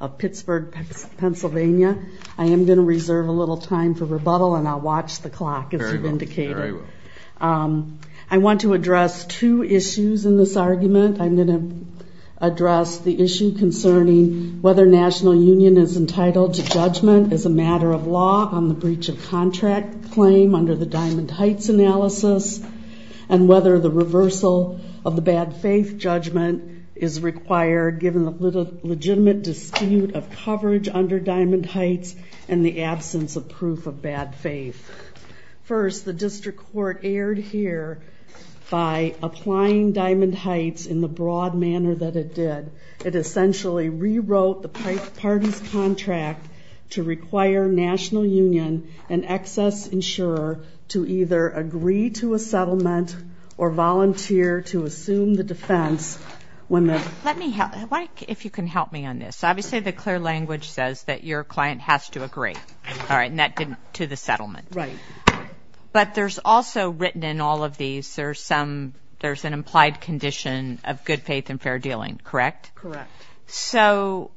of Pittsburgh, Pennsylvania. I am going to reserve a little time for rebuttal, and I'll watch the clock, as you've indicated. I want to address two issues in this argument. I'm going to address the issue concerning whether National Union is entitled to judgment as a matter of law on the basis of the statute of limitations. breach of contract claim under the Diamond Heights analysis, and whether the reversal of the bad faith judgment is required, given the legitimate dispute of coverage under Diamond Heights and the absence of proof of bad faith. First, the district court erred here by applying Diamond Heights in the broad manner that it did. It essentially rewrote the parties' contract to require National Union and excess insurer to either agree to a settlement or volunteer to assume the defense when the... Let me help. If you can help me on this. Obviously, the clear language says that your client has to agree. All right, and that didn't to the settlement. Right. But there's also written in all of these, there's an implied condition of good faith and fair dealing, correct? Correct. So,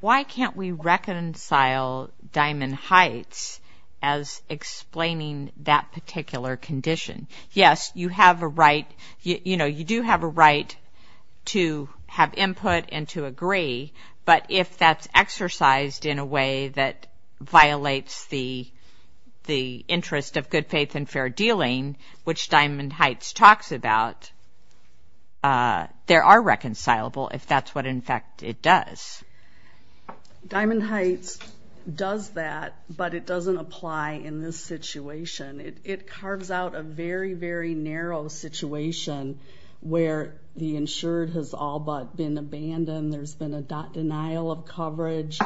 why can't we reconcile Diamond Heights as explaining that particular condition? Yes, you have a right, you know, you do have a right to have input and to agree, but if that's exercised in a way that violates the interest of good faith and fair dealing, which Diamond Heights talks about, there are reconcilable if that's what, in fact, it does. Diamond Heights does that, but it doesn't apply in this situation. It carves out a very, very narrow situation where the insured has all but been abandoned, there's been a denial of coverage,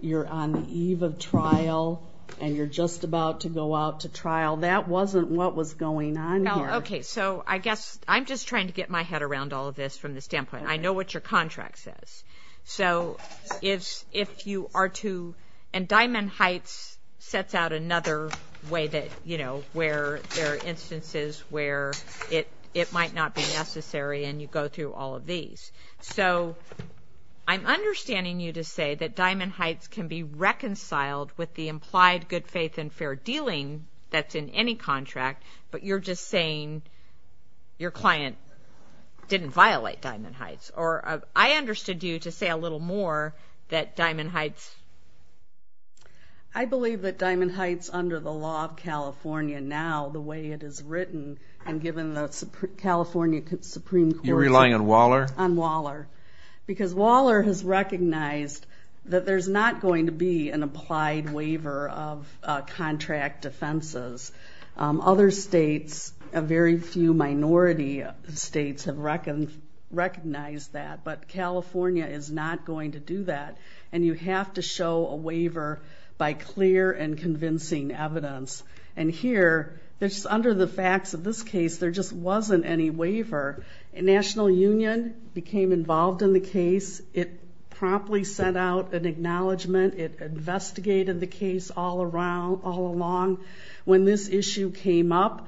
you're on the eve of trial, and you're just about to go out to trial. That wasn't what was going on here. Okay, so I guess I'm just trying to get my head around all of this from the standpoint. I know what your contract says. So, if you are to, and Diamond Heights sets out another way that, you know, where there are instances where it might not be necessary and you go through all of these. So, I'm understanding you to say that Diamond Heights can be reconciled with the implied good faith and fair dealing that's in any contract, but you're just saying your client didn't violate Diamond Heights. Or I understood you to say a little more that Diamond Heights. I believe that Diamond Heights under the law of California now, the way it is written, and given the California Supreme Court. You're relying on Waller? On Waller. Because Waller has recognized that there's not going to be an applied waiver of contract offenses. Other states, very few minority states have recognized that, but California is not going to do that. And you have to show a waiver by clear and convincing evidence. And here, under the facts of this case, there just wasn't any waiver. National Union became involved in the case. It promptly sent out an acknowledgment. It investigated the case all along. When this issue came up,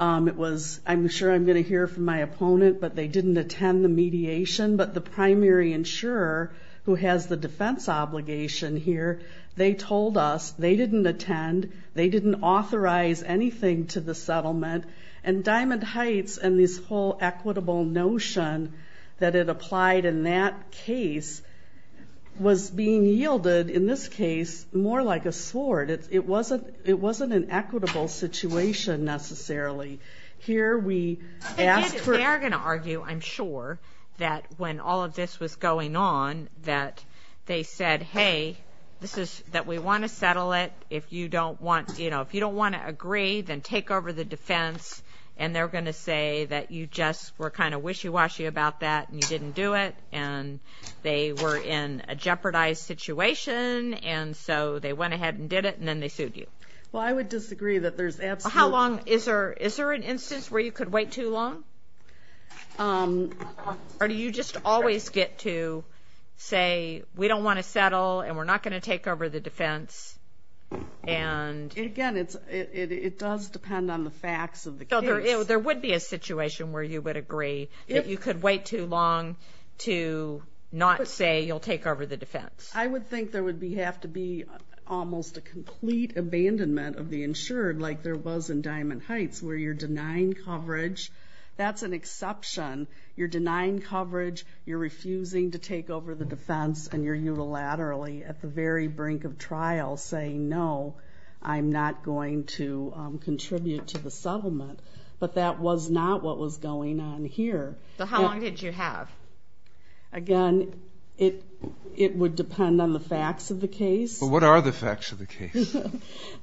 it was, I'm sure I'm going to hear from my opponent, but they didn't attend the mediation. But the primary insurer, who has the defense obligation here, they told us they didn't attend. They didn't authorize anything to the settlement. And Diamond Heights and this whole equitable notion that it applied in that case was being yielded, in this case, more like a sword. It wasn't an equitable situation, necessarily. Here we asked for ---- They're going to argue, I'm sure, that when all of this was going on, that they said, hey, this is that we want to settle it. If you don't want to agree, then take over the defense. And they're going to say that you just were kind of wishy-washy about that and you didn't do it and they were in a jeopardized situation, and so they went ahead and did it, and then they sued you. Well, I would disagree that there's absolutely ---- Is there an instance where you could wait too long? Or do you just always get to say, we don't want to settle and we're not going to take over the defense and ---- Again, it does depend on the facts of the case. So there would be a situation where you would agree that you could wait too long to not say you'll take over the defense. I would think there would have to be almost a complete abandonment of the insured, like there was in Diamond Heights, where you're denying coverage. That's an exception. You're denying coverage, you're refusing to take over the defense, and you're unilaterally at the very brink of trial saying, no, I'm not going to contribute to the settlement. But that was not what was going on here. So how long did you have? Again, it would depend on the facts of the case. But what are the facts of the case?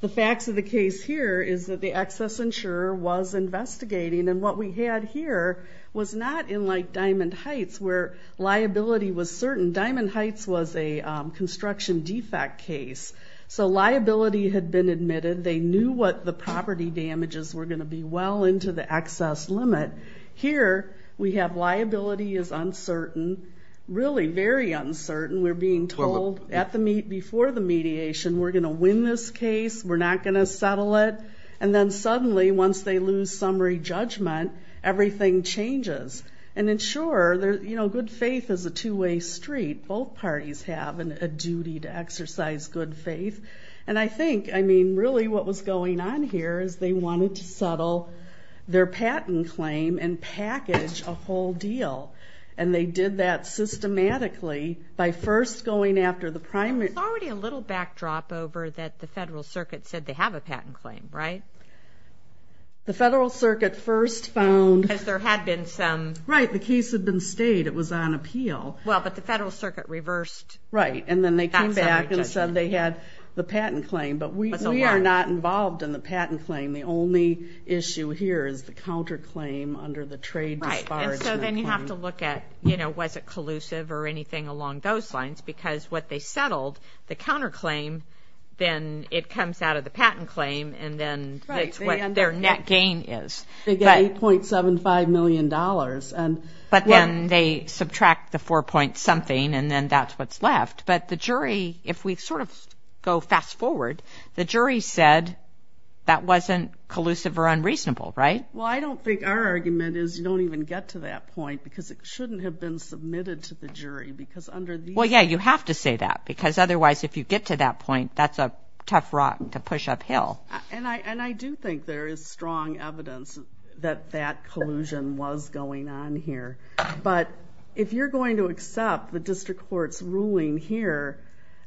The facts of the case here is that the excess insurer was investigating, and what we had here was not in like Diamond Heights, where liability was certain. Diamond Heights was a construction defect case. So liability had been admitted. They knew what the property damages were going to be well into the excess limit. Here we have liability is uncertain, really very uncertain. We're being told before the mediation, we're going to win this case, we're not going to settle it. And then suddenly, once they lose summary judgment, everything changes. And, sure, good faith is a two-way street. Both parties have a duty to exercise good faith. And I think, I mean, really what was going on here is they wanted to settle their patent claim and package a whole deal. And they did that systematically by first going after the primary. There's already a little backdrop over that the Federal Circuit said they have a patent claim, right? The Federal Circuit first found. Because there had been some. Right, the case had been stayed. It was on appeal. Well, but the Federal Circuit reversed. Right, and then they came back and said they had the patent claim. But we are not involved in the patent claim. The only issue here is the counterclaim under the trade disparagement. Right, and so then you have to look at, you know, was it collusive or anything along those lines? Because what they settled, the counterclaim, then it comes out of the patent claim, and then that's what their net gain is. They get $8.75 million. But then they subtract the four-point-something, and then that's what's left. But the jury, if we sort of go fast forward, the jury said that wasn't collusive or unreasonable, right? Well, I don't think our argument is you don't even get to that point because it shouldn't have been submitted to the jury. Well, yeah, you have to say that because otherwise if you get to that point, that's a tough rock to push uphill. And I do think there is strong evidence that that collusion was going on here. But if you're going to accept the district court's ruling here,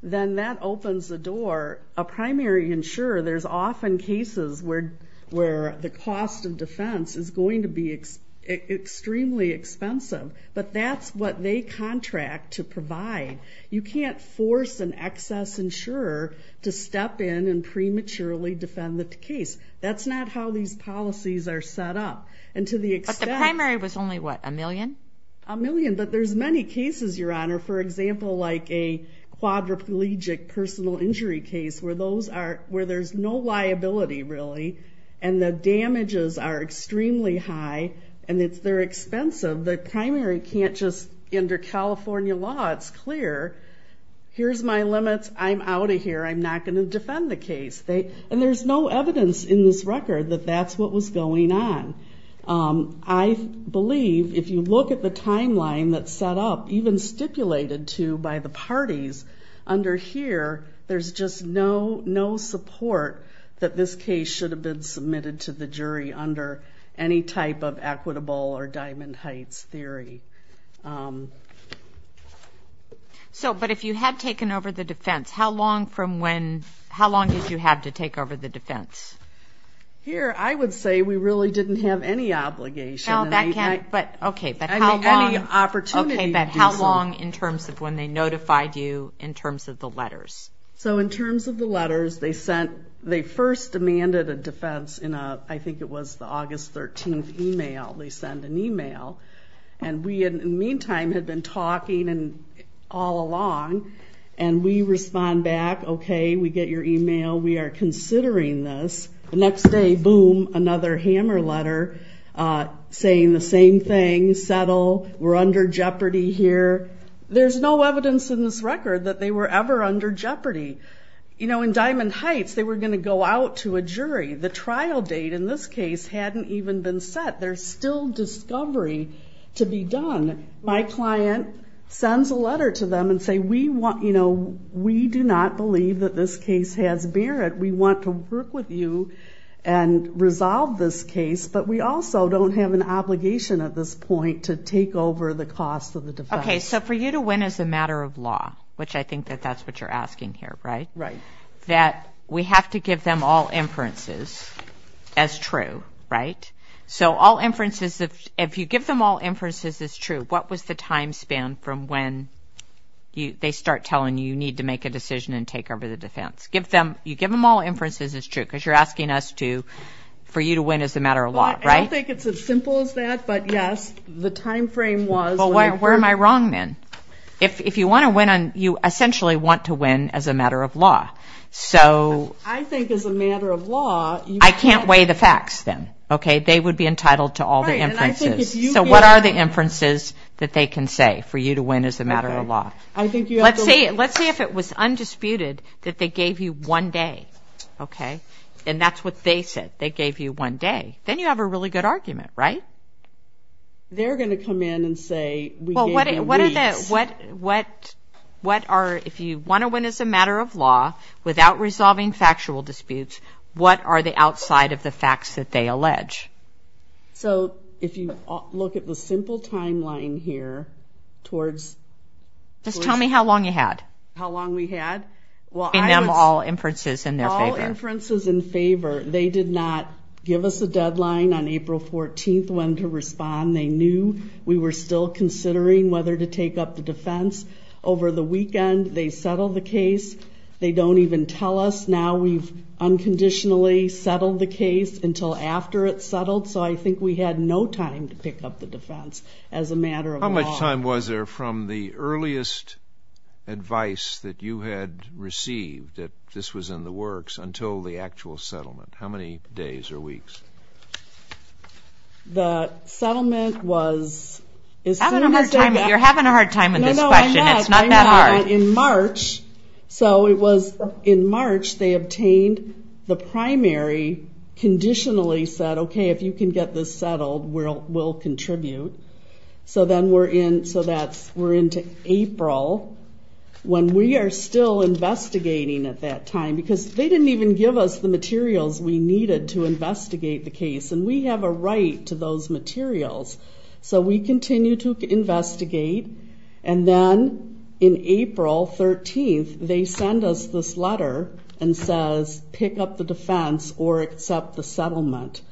then that opens the door. A primary insurer, there's often cases where the cost of defense is going to be extremely expensive. But that's what they contract to provide. You can't force an excess insurer to step in and prematurely defend the case. That's not how these policies are set up. But the primary was only, what, a million? A million. But there's many cases, Your Honor, for example, like a quadriplegic personal injury case where there's no liability really and the damages are extremely high and they're expensive. The primary can't just enter California law. It's clear. Here's my limits. I'm out of here. I'm not going to defend the case. And there's no evidence in this record that that's what was going on. I believe if you look at the timeline that's set up, even stipulated to by the parties under here, there's just no support that this case should have been submitted to the jury under any type of equitable or Diamond Heights theory. But if you had taken over the defense, how long did you have to take over the defense? Here I would say we really didn't have any obligation. Okay, but how long in terms of when they notified you in terms of the letters? So in terms of the letters, they first demanded a defense in I think it was the August 13th email. They sent an email. And we in the meantime had been talking all along, and we respond back, okay, we get your email, we are considering this. The next day, boom, another hammer letter saying the same thing, settle, we're under jeopardy here. There's no evidence in this record that they were ever under jeopardy. In Diamond Heights, they were going to go out to a jury. The trial date in this case hadn't even been set. There's still discovery to be done. My client sends a letter to them and say, we do not believe that this case has merit. We want to work with you and resolve this case, but we also don't have an obligation at this point to take over the cost of the defense. Okay, so for you to win is a matter of law, which I think that that's what you're asking here, right? Right. That we have to give them all inferences as true, right? So all inferences, if you give them all inferences as true, what was the time span from when they start telling you you need to make a decision and take over the defense? You give them all inferences as true because you're asking us to, for you to win is a matter of law, right? I don't think it's as simple as that, but yes, the time frame was. Well, where am I wrong then? If you want to win, you essentially want to win as a matter of law. I think as a matter of law. I can't weigh the facts then, okay? They would be entitled to all the inferences. So what are the inferences that they can say for you to win as a matter of law? Let's say if it was undisputed that they gave you one day, okay? And that's what they said, they gave you one day. Then you have a really good argument, right? They're going to come in and say we gave you weeks. What are the, if you want to win as a matter of law without resolving factual disputes, what are the outside of the facts that they allege? So if you look at the simple timeline here towards... Just tell me how long you had. How long we had? Giving them all inferences in their favor. All inferences in favor. They did not give us a deadline on April 14th when to respond. They knew we were still considering whether to take up the defense. Over the weekend they settled the case. They don't even tell us now we've unconditionally settled the case until after it's settled. So I think we had no time to pick up the defense as a matter of law. How much time was there from the earliest advice that you had received that this was in the works until the actual settlement? How many days or weeks? The settlement was... You're having a hard time with this question. It's not that hard. In March... So it was in March they obtained the primary, conditionally said, okay, if you can get this settled, we'll contribute. So then we're into April when we are still investigating at that time because they didn't even give us the materials we needed to investigate the case, and we have a right to those materials. So we continue to investigate, and then in April 13th they send us this letter and says pick up the defense or accept the settlement.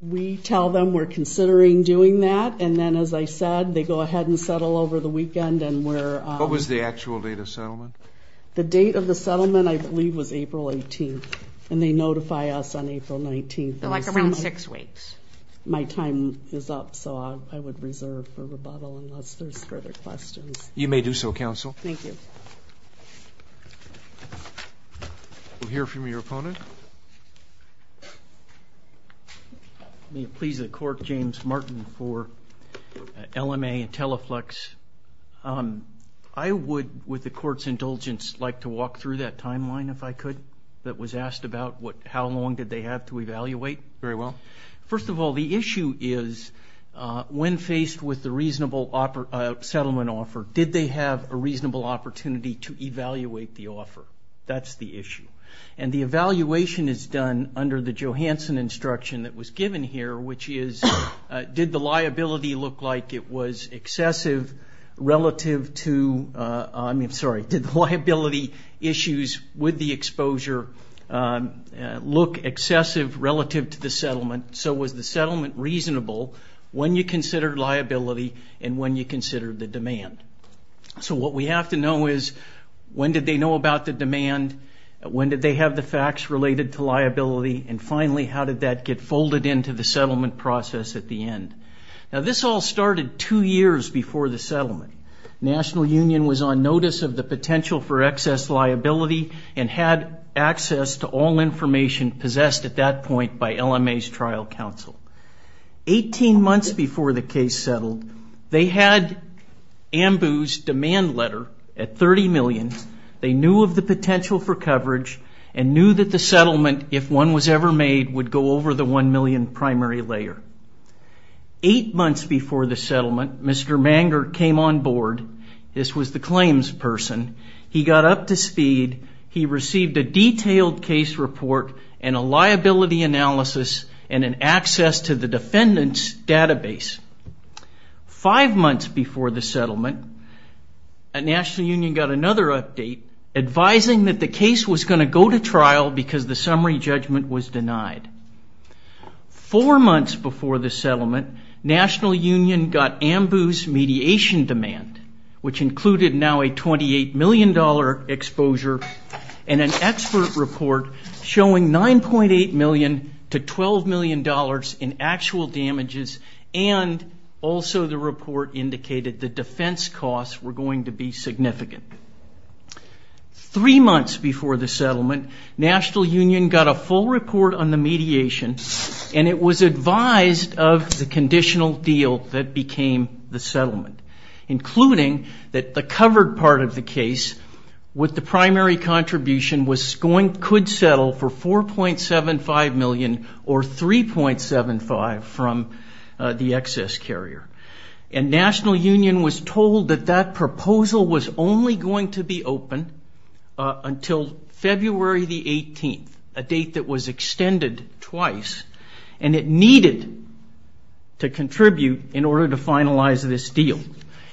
We tell them we're considering doing that, and then, as I said, they go ahead and settle over the weekend and we're... What was the actual date of settlement? The date of the settlement I believe was April 18th, and they notify us on April 19th. So like around six weeks. My time is up, so I would reserve for rebuttal unless there's further questions. You may do so, Counsel. Thank you. We'll hear from your opponent. May it please the Court, James Martin for LMA and Teleflex. I would, with the Court's indulgence, like to walk through that timeline if I could, that was asked about how long did they have to evaluate. Very well. First of all, the issue is when faced with the reasonable settlement offer, did they have a reasonable opportunity to evaluate the offer? That's the issue. And the evaluation is done under the Johansson instruction that was given here, which is did the liability look like it was excessive relative to... I'm sorry. Did the liability issues with the exposure look excessive relative to the settlement? So was the settlement reasonable when you considered liability and when you considered the demand? So what we have to know is when did they know about the demand, when did they have the facts related to liability, and finally, how did that get folded into the settlement process at the end? Now, this all started two years before the settlement. National Union was on notice of the potential for excess liability and had access to all information possessed at that point by LMA's trial counsel. Eighteen months before the case settled, they had AMBU's demand letter at $30 million. They knew of the potential for coverage and knew that the settlement, if one was ever made, would go over the $1 million primary layer. Eight months before the settlement, Mr. Manger came on board. This was the claims person. He got up to speed. He received a detailed case report and a liability analysis and an access to the defendant's database. Five months before the settlement, National Union got another update advising that the case was going to go to trial because the summary judgment was denied. Four months before the settlement, National Union got AMBU's mediation demand, which included now a $28 million exposure and an expert report showing $9.8 million to $12 million in actual damages and also the report indicated the defense costs were going to be significant. Three months before the settlement, National Union got a full report on the mediation and it was advised of the conditional deal that became the settlement, including that the covered part of the case with the primary contribution could settle for $4.75 million or $3.75 from the excess carrier. And National Union was told that that proposal was only going to be open until February the 18th, a date that was extended twice, and it needed to contribute in order to finalize this deal.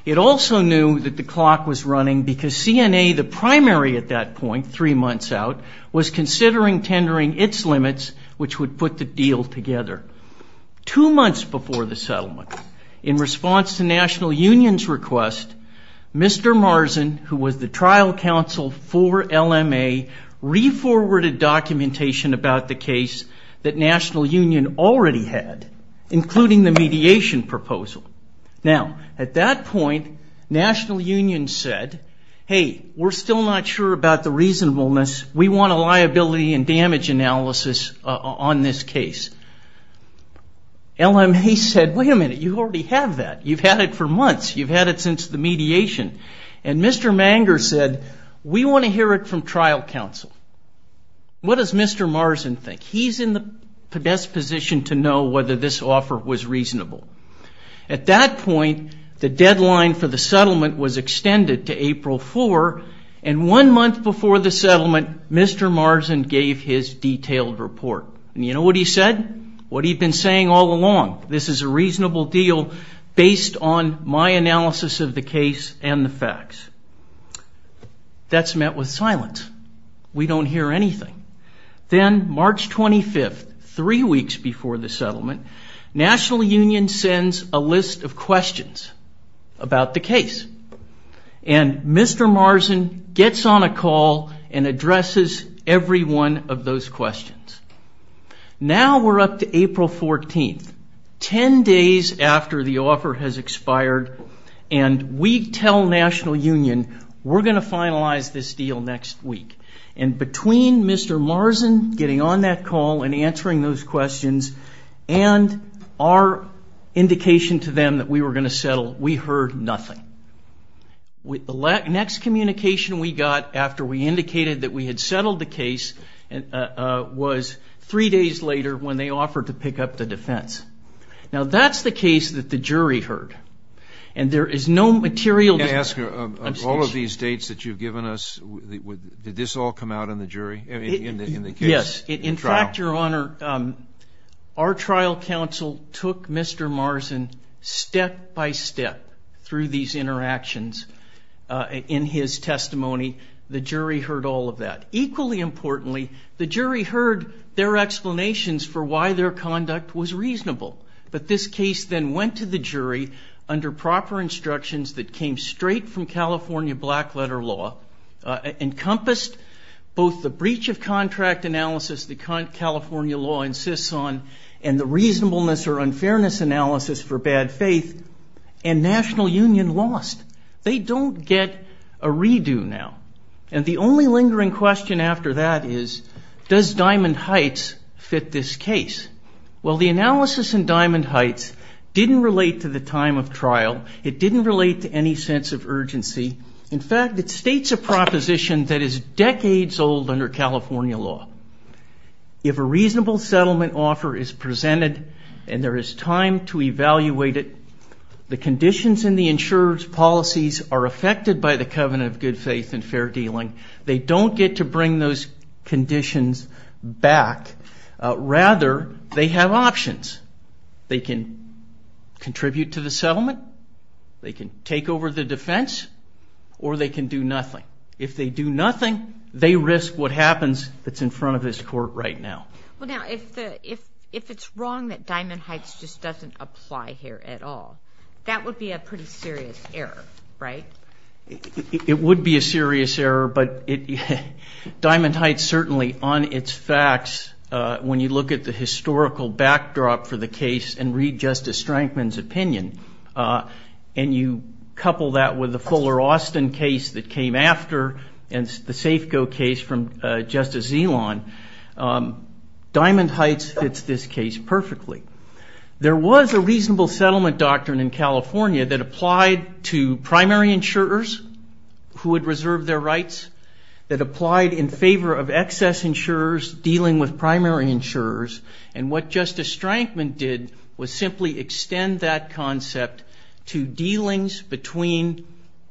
It also knew that the clock was running because CNA, the primary at that point, three months out, was considering tendering its limits, which would put the deal together. Two months before the settlement, in response to National Union's request, Mr. Marzin, who was the trial counsel for LMA, re-forwarded documentation about the case that National Union already had, including the mediation proposal. Now, at that point, National Union said, hey, we're still not sure about the reasonableness. We want a liability and damage analysis on this case. LMA said, wait a minute, you already have that. You've had it for months. You've had it since the mediation. And Mr. Manger said, we want to hear it from trial counsel. What does Mr. Marzin think? He's in the best position to know whether this offer was reasonable. At that point, the deadline for the settlement was extended to April 4, and one month before the settlement, Mr. Marzin gave his detailed report. And you know what he said, what he'd been saying all along, this is a reasonable deal based on my analysis of the case and the facts. That's met with silence. We don't hear anything. Then March 25, three weeks before the settlement, National Union sends a list of questions about the case. And Mr. Marzin gets on a call and addresses every one of those questions. Now we're up to April 14, 10 days after the offer has expired, and we tell National Union we're going to finalize this deal next week. And between Mr. Marzin getting on that call and answering those questions and our indication to them that we were going to settle, we heard nothing. The next communication we got after we indicated that we had settled the case was three days later when they offered to pick up the defense. Now that's the case that the jury heard. And there is no material to that. All of these dates that you've given us, did this all come out in the jury, in the case? Yes. In fact, Your Honor, our trial counsel took Mr. Marzin step by step through these interactions in his testimony. The jury heard all of that. Equally importantly, the jury heard their explanations for why their conduct was reasonable. But this case then went to the jury under proper instructions that came straight from California black letter law, encompassed both the breach of contract analysis that California law insists on and the reasonableness or unfairness analysis for bad faith, and National Union lost. They don't get a redo now. And the only lingering question after that is, does Diamond Heights fit this case? Well, the analysis in Diamond Heights didn't relate to the time of trial. It didn't relate to any sense of urgency. In fact, it states a proposition that is decades old under California law. If a reasonable settlement offer is presented and there is time to evaluate it, the conditions in the insurer's policies are affected by the covenant of good faith and fair dealing. They don't get to bring those conditions back. Rather, they have options. They can contribute to the settlement, they can take over the defense, or they can do nothing. If they do nothing, they risk what happens that's in front of this court right now. Well, now, if it's wrong that Diamond Heights just doesn't apply here at all, that would be a pretty serious error, right? It would be a serious error, but Diamond Heights certainly, on its facts, when you look at the historical backdrop for the case and read Justice Strankman's opinion, and you couple that with the Fuller-Austin case that came after and the Safeco case from Justice Elan, Diamond Heights fits this case perfectly. There was a reasonable settlement doctrine in California that applied to primary insurers who had reserved their rights, that applied in favor of excess insurers dealing with primary insurers, and what Justice Strankman did was simply extend that concept to dealings between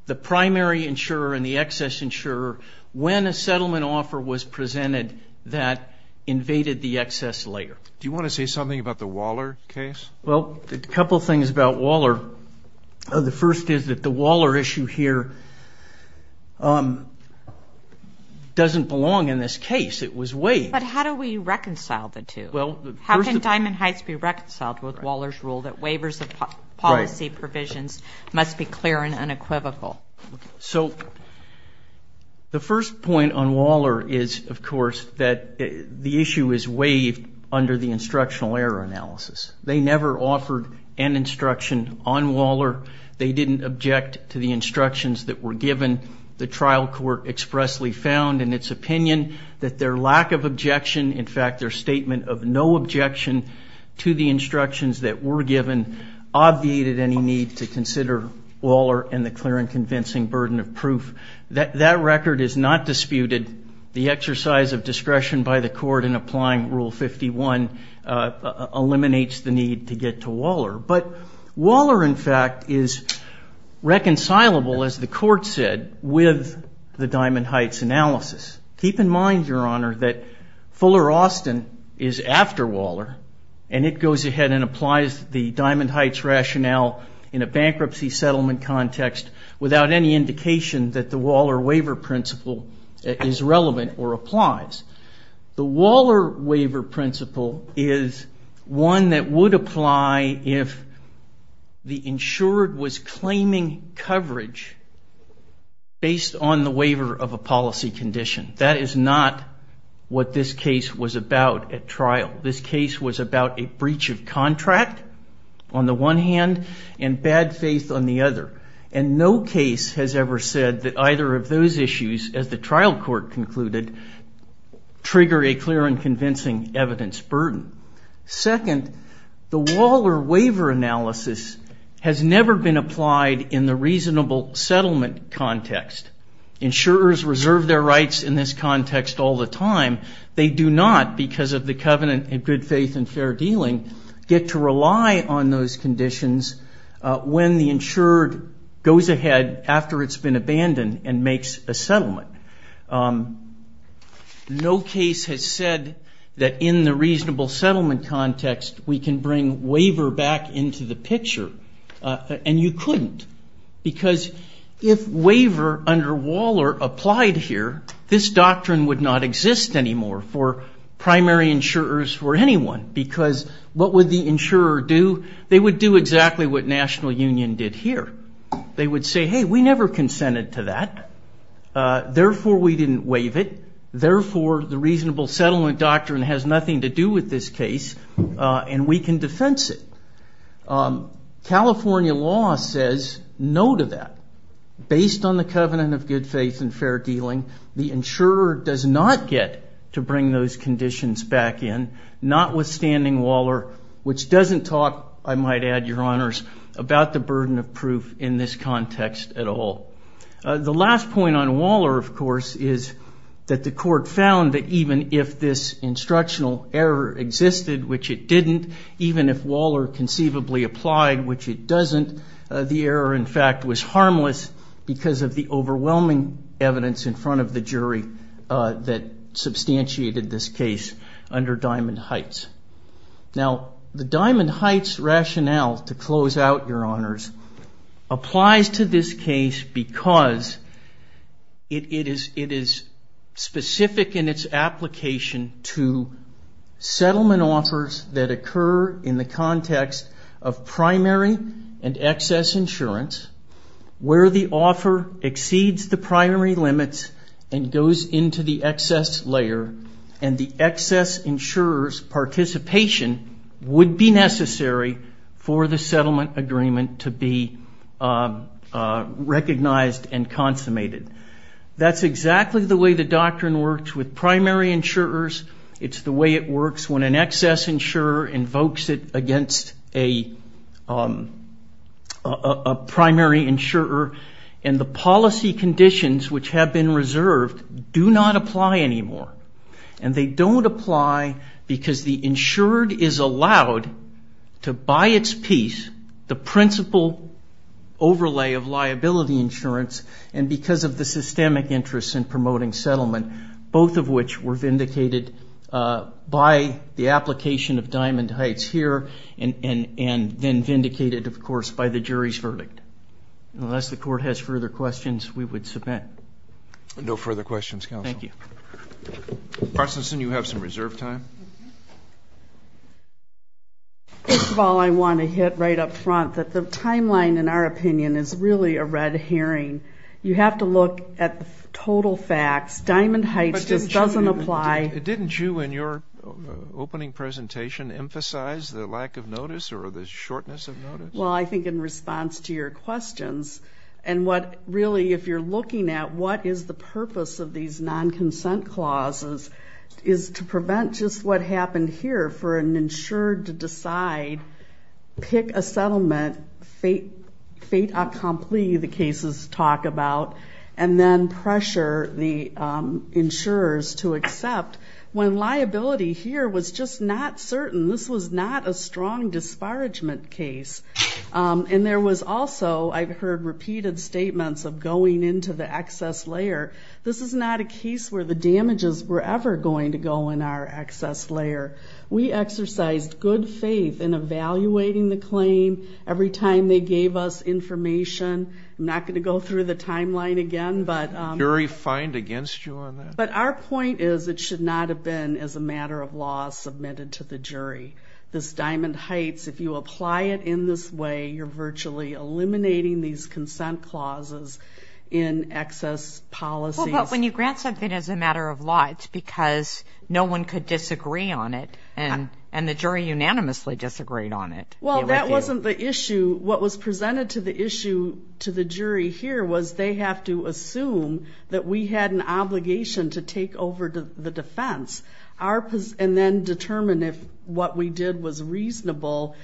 the primary insurer and the excess insurer when a settlement offer was presented that invaded the excess layer. Do you want to say something about the Waller case? Well, a couple things about Waller. The first is that the Waller issue here doesn't belong in this case. It was waived. But how do we reconcile the two? How can Diamond Heights be reconciled with Waller's rule that waivers of policy provisions must be clear and unequivocal? So the first point on Waller is, of course, that the issue is waived under the instructional error analysis. They never offered an instruction on Waller. They didn't object to the instructions that were given. The trial court expressly found in its opinion that their lack of objection, in fact their statement of no objection to the instructions that were given, obviated any need to consider Waller and the clear and convincing burden of proof. That record is not disputed. The exercise of discretion by the court in applying Rule 51 eliminates the need to get to Waller. But Waller, in fact, is reconcilable, as the court said, with the Diamond Heights analysis. Keep in mind, Your Honor, that Fuller-Austin is after Waller, and it goes ahead and applies the Diamond Heights rationale in a bankruptcy settlement context without any indication that the Waller waiver principle is relevant or applies. The Waller waiver principle is one that would apply if the insured was claiming coverage based on the waiver of a policy condition. That is not what this case was about at trial. This case was about a breach of contract, on the one hand, and bad faith on the other. And no case has ever said that either of those issues, as the trial court concluded, trigger a clear and convincing evidence burden. Second, the Waller waiver analysis has never been applied in the reasonable settlement context. Insurers reserve their rights in this context all the time. They do not, because of the covenant of good faith and fair dealing, get to rely on those conditions when the insured goes ahead after it's been abandoned and makes a settlement. No case has said that in the reasonable settlement context we can bring waiver back into the picture. And you couldn't, because if waiver under Waller applied here, this doctrine would not exist anymore for primary insurers or anyone, because what would the insurer do? They would do exactly what National Union did here. They would say, hey, we never consented to that, therefore we didn't waive it, therefore the reasonable settlement doctrine has nothing to do with this case and we can defense it. California law says no to that. Based on the covenant of good faith and fair dealing, the insurer does not get to bring those conditions back in, notwithstanding Waller, which doesn't talk, I might add, Your Honors, about the burden of proof in this context at all. The last point on Waller, of course, is that the court found that even if this instructional error existed, which it didn't, even if Waller conceivably applied, which it doesn't, the error in fact was harmless because of the overwhelming evidence in front of the jury that substantiated this case under Diamond Heights. Now, the Diamond Heights rationale, to close out, Your Honors, applies to this case because it is specific in its application to settlement offers that occur in the context of primary and excess insurance, where the offer exceeds the primary limits and goes into the excess layer and the excess insurer's participation would be necessary for the settlement agreement to be recognized and consummated. That's exactly the way the doctrine works with primary insurers. It's the way it works when an excess insurer invokes it against a primary insurer and the policy conditions which have been reserved do not apply anymore, and they don't apply because the insured is allowed to buy its piece, the principal overlay of liability insurance, and because of the systemic interest in promoting settlement, both of which were vindicated by the application of Diamond Heights here and then vindicated, of course, by the jury's verdict. Unless the Court has further questions, we would submit. No further questions, Counsel. Thank you. Parsonson, you have some reserve time. First of all, I want to hit right up front that the timeline, in our opinion, is really a red herring. You have to look at the total facts. Diamond Heights just doesn't apply. But didn't you, in your opening presentation, emphasize the lack of notice or the shortness of notice? Well, I think in response to your questions and what really if you're looking at what is the purpose of these non-consent clauses is to prevent just what happened here for an insurer to decide, pick a settlement, fait accompli, the cases talk about, and then pressure the insurers to accept when liability here was just not certain. This was not a strong disparagement case. And there was also, I've heard repeated statements of going into the excess layer. This is not a case where the damages were ever going to go in our excess layer. We exercised good faith in evaluating the claim every time they gave us information. I'm not going to go through the timeline again. Did the jury find against you on that? But our point is it should not have been as a matter of law submitted to the jury. This Diamond Heights, if you apply it in this way, you're virtually eliminating these consent clauses in excess policies. But when you grant something as a matter of law, it's because no one could disagree on it, and the jury unanimously disagreed on it. Well, that wasn't the issue. What was presented to the issue to the jury here was they have to assume that we had an obligation to take over the defense and then determine if what we did was reasonable,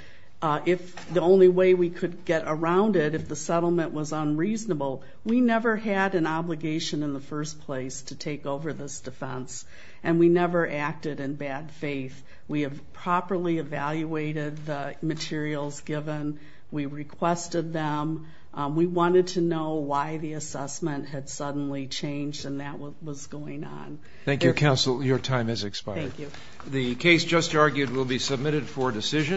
if the only way we could get around it, if the settlement was unreasonable. We never had an obligation in the first place to take over this defense, and we never acted in bad faith. We have properly evaluated the materials given. We requested them. We wanted to know why the assessment had suddenly changed and that was going on. Thank you, counsel. Your time has expired. Thank you. The case just argued will be submitted for decision.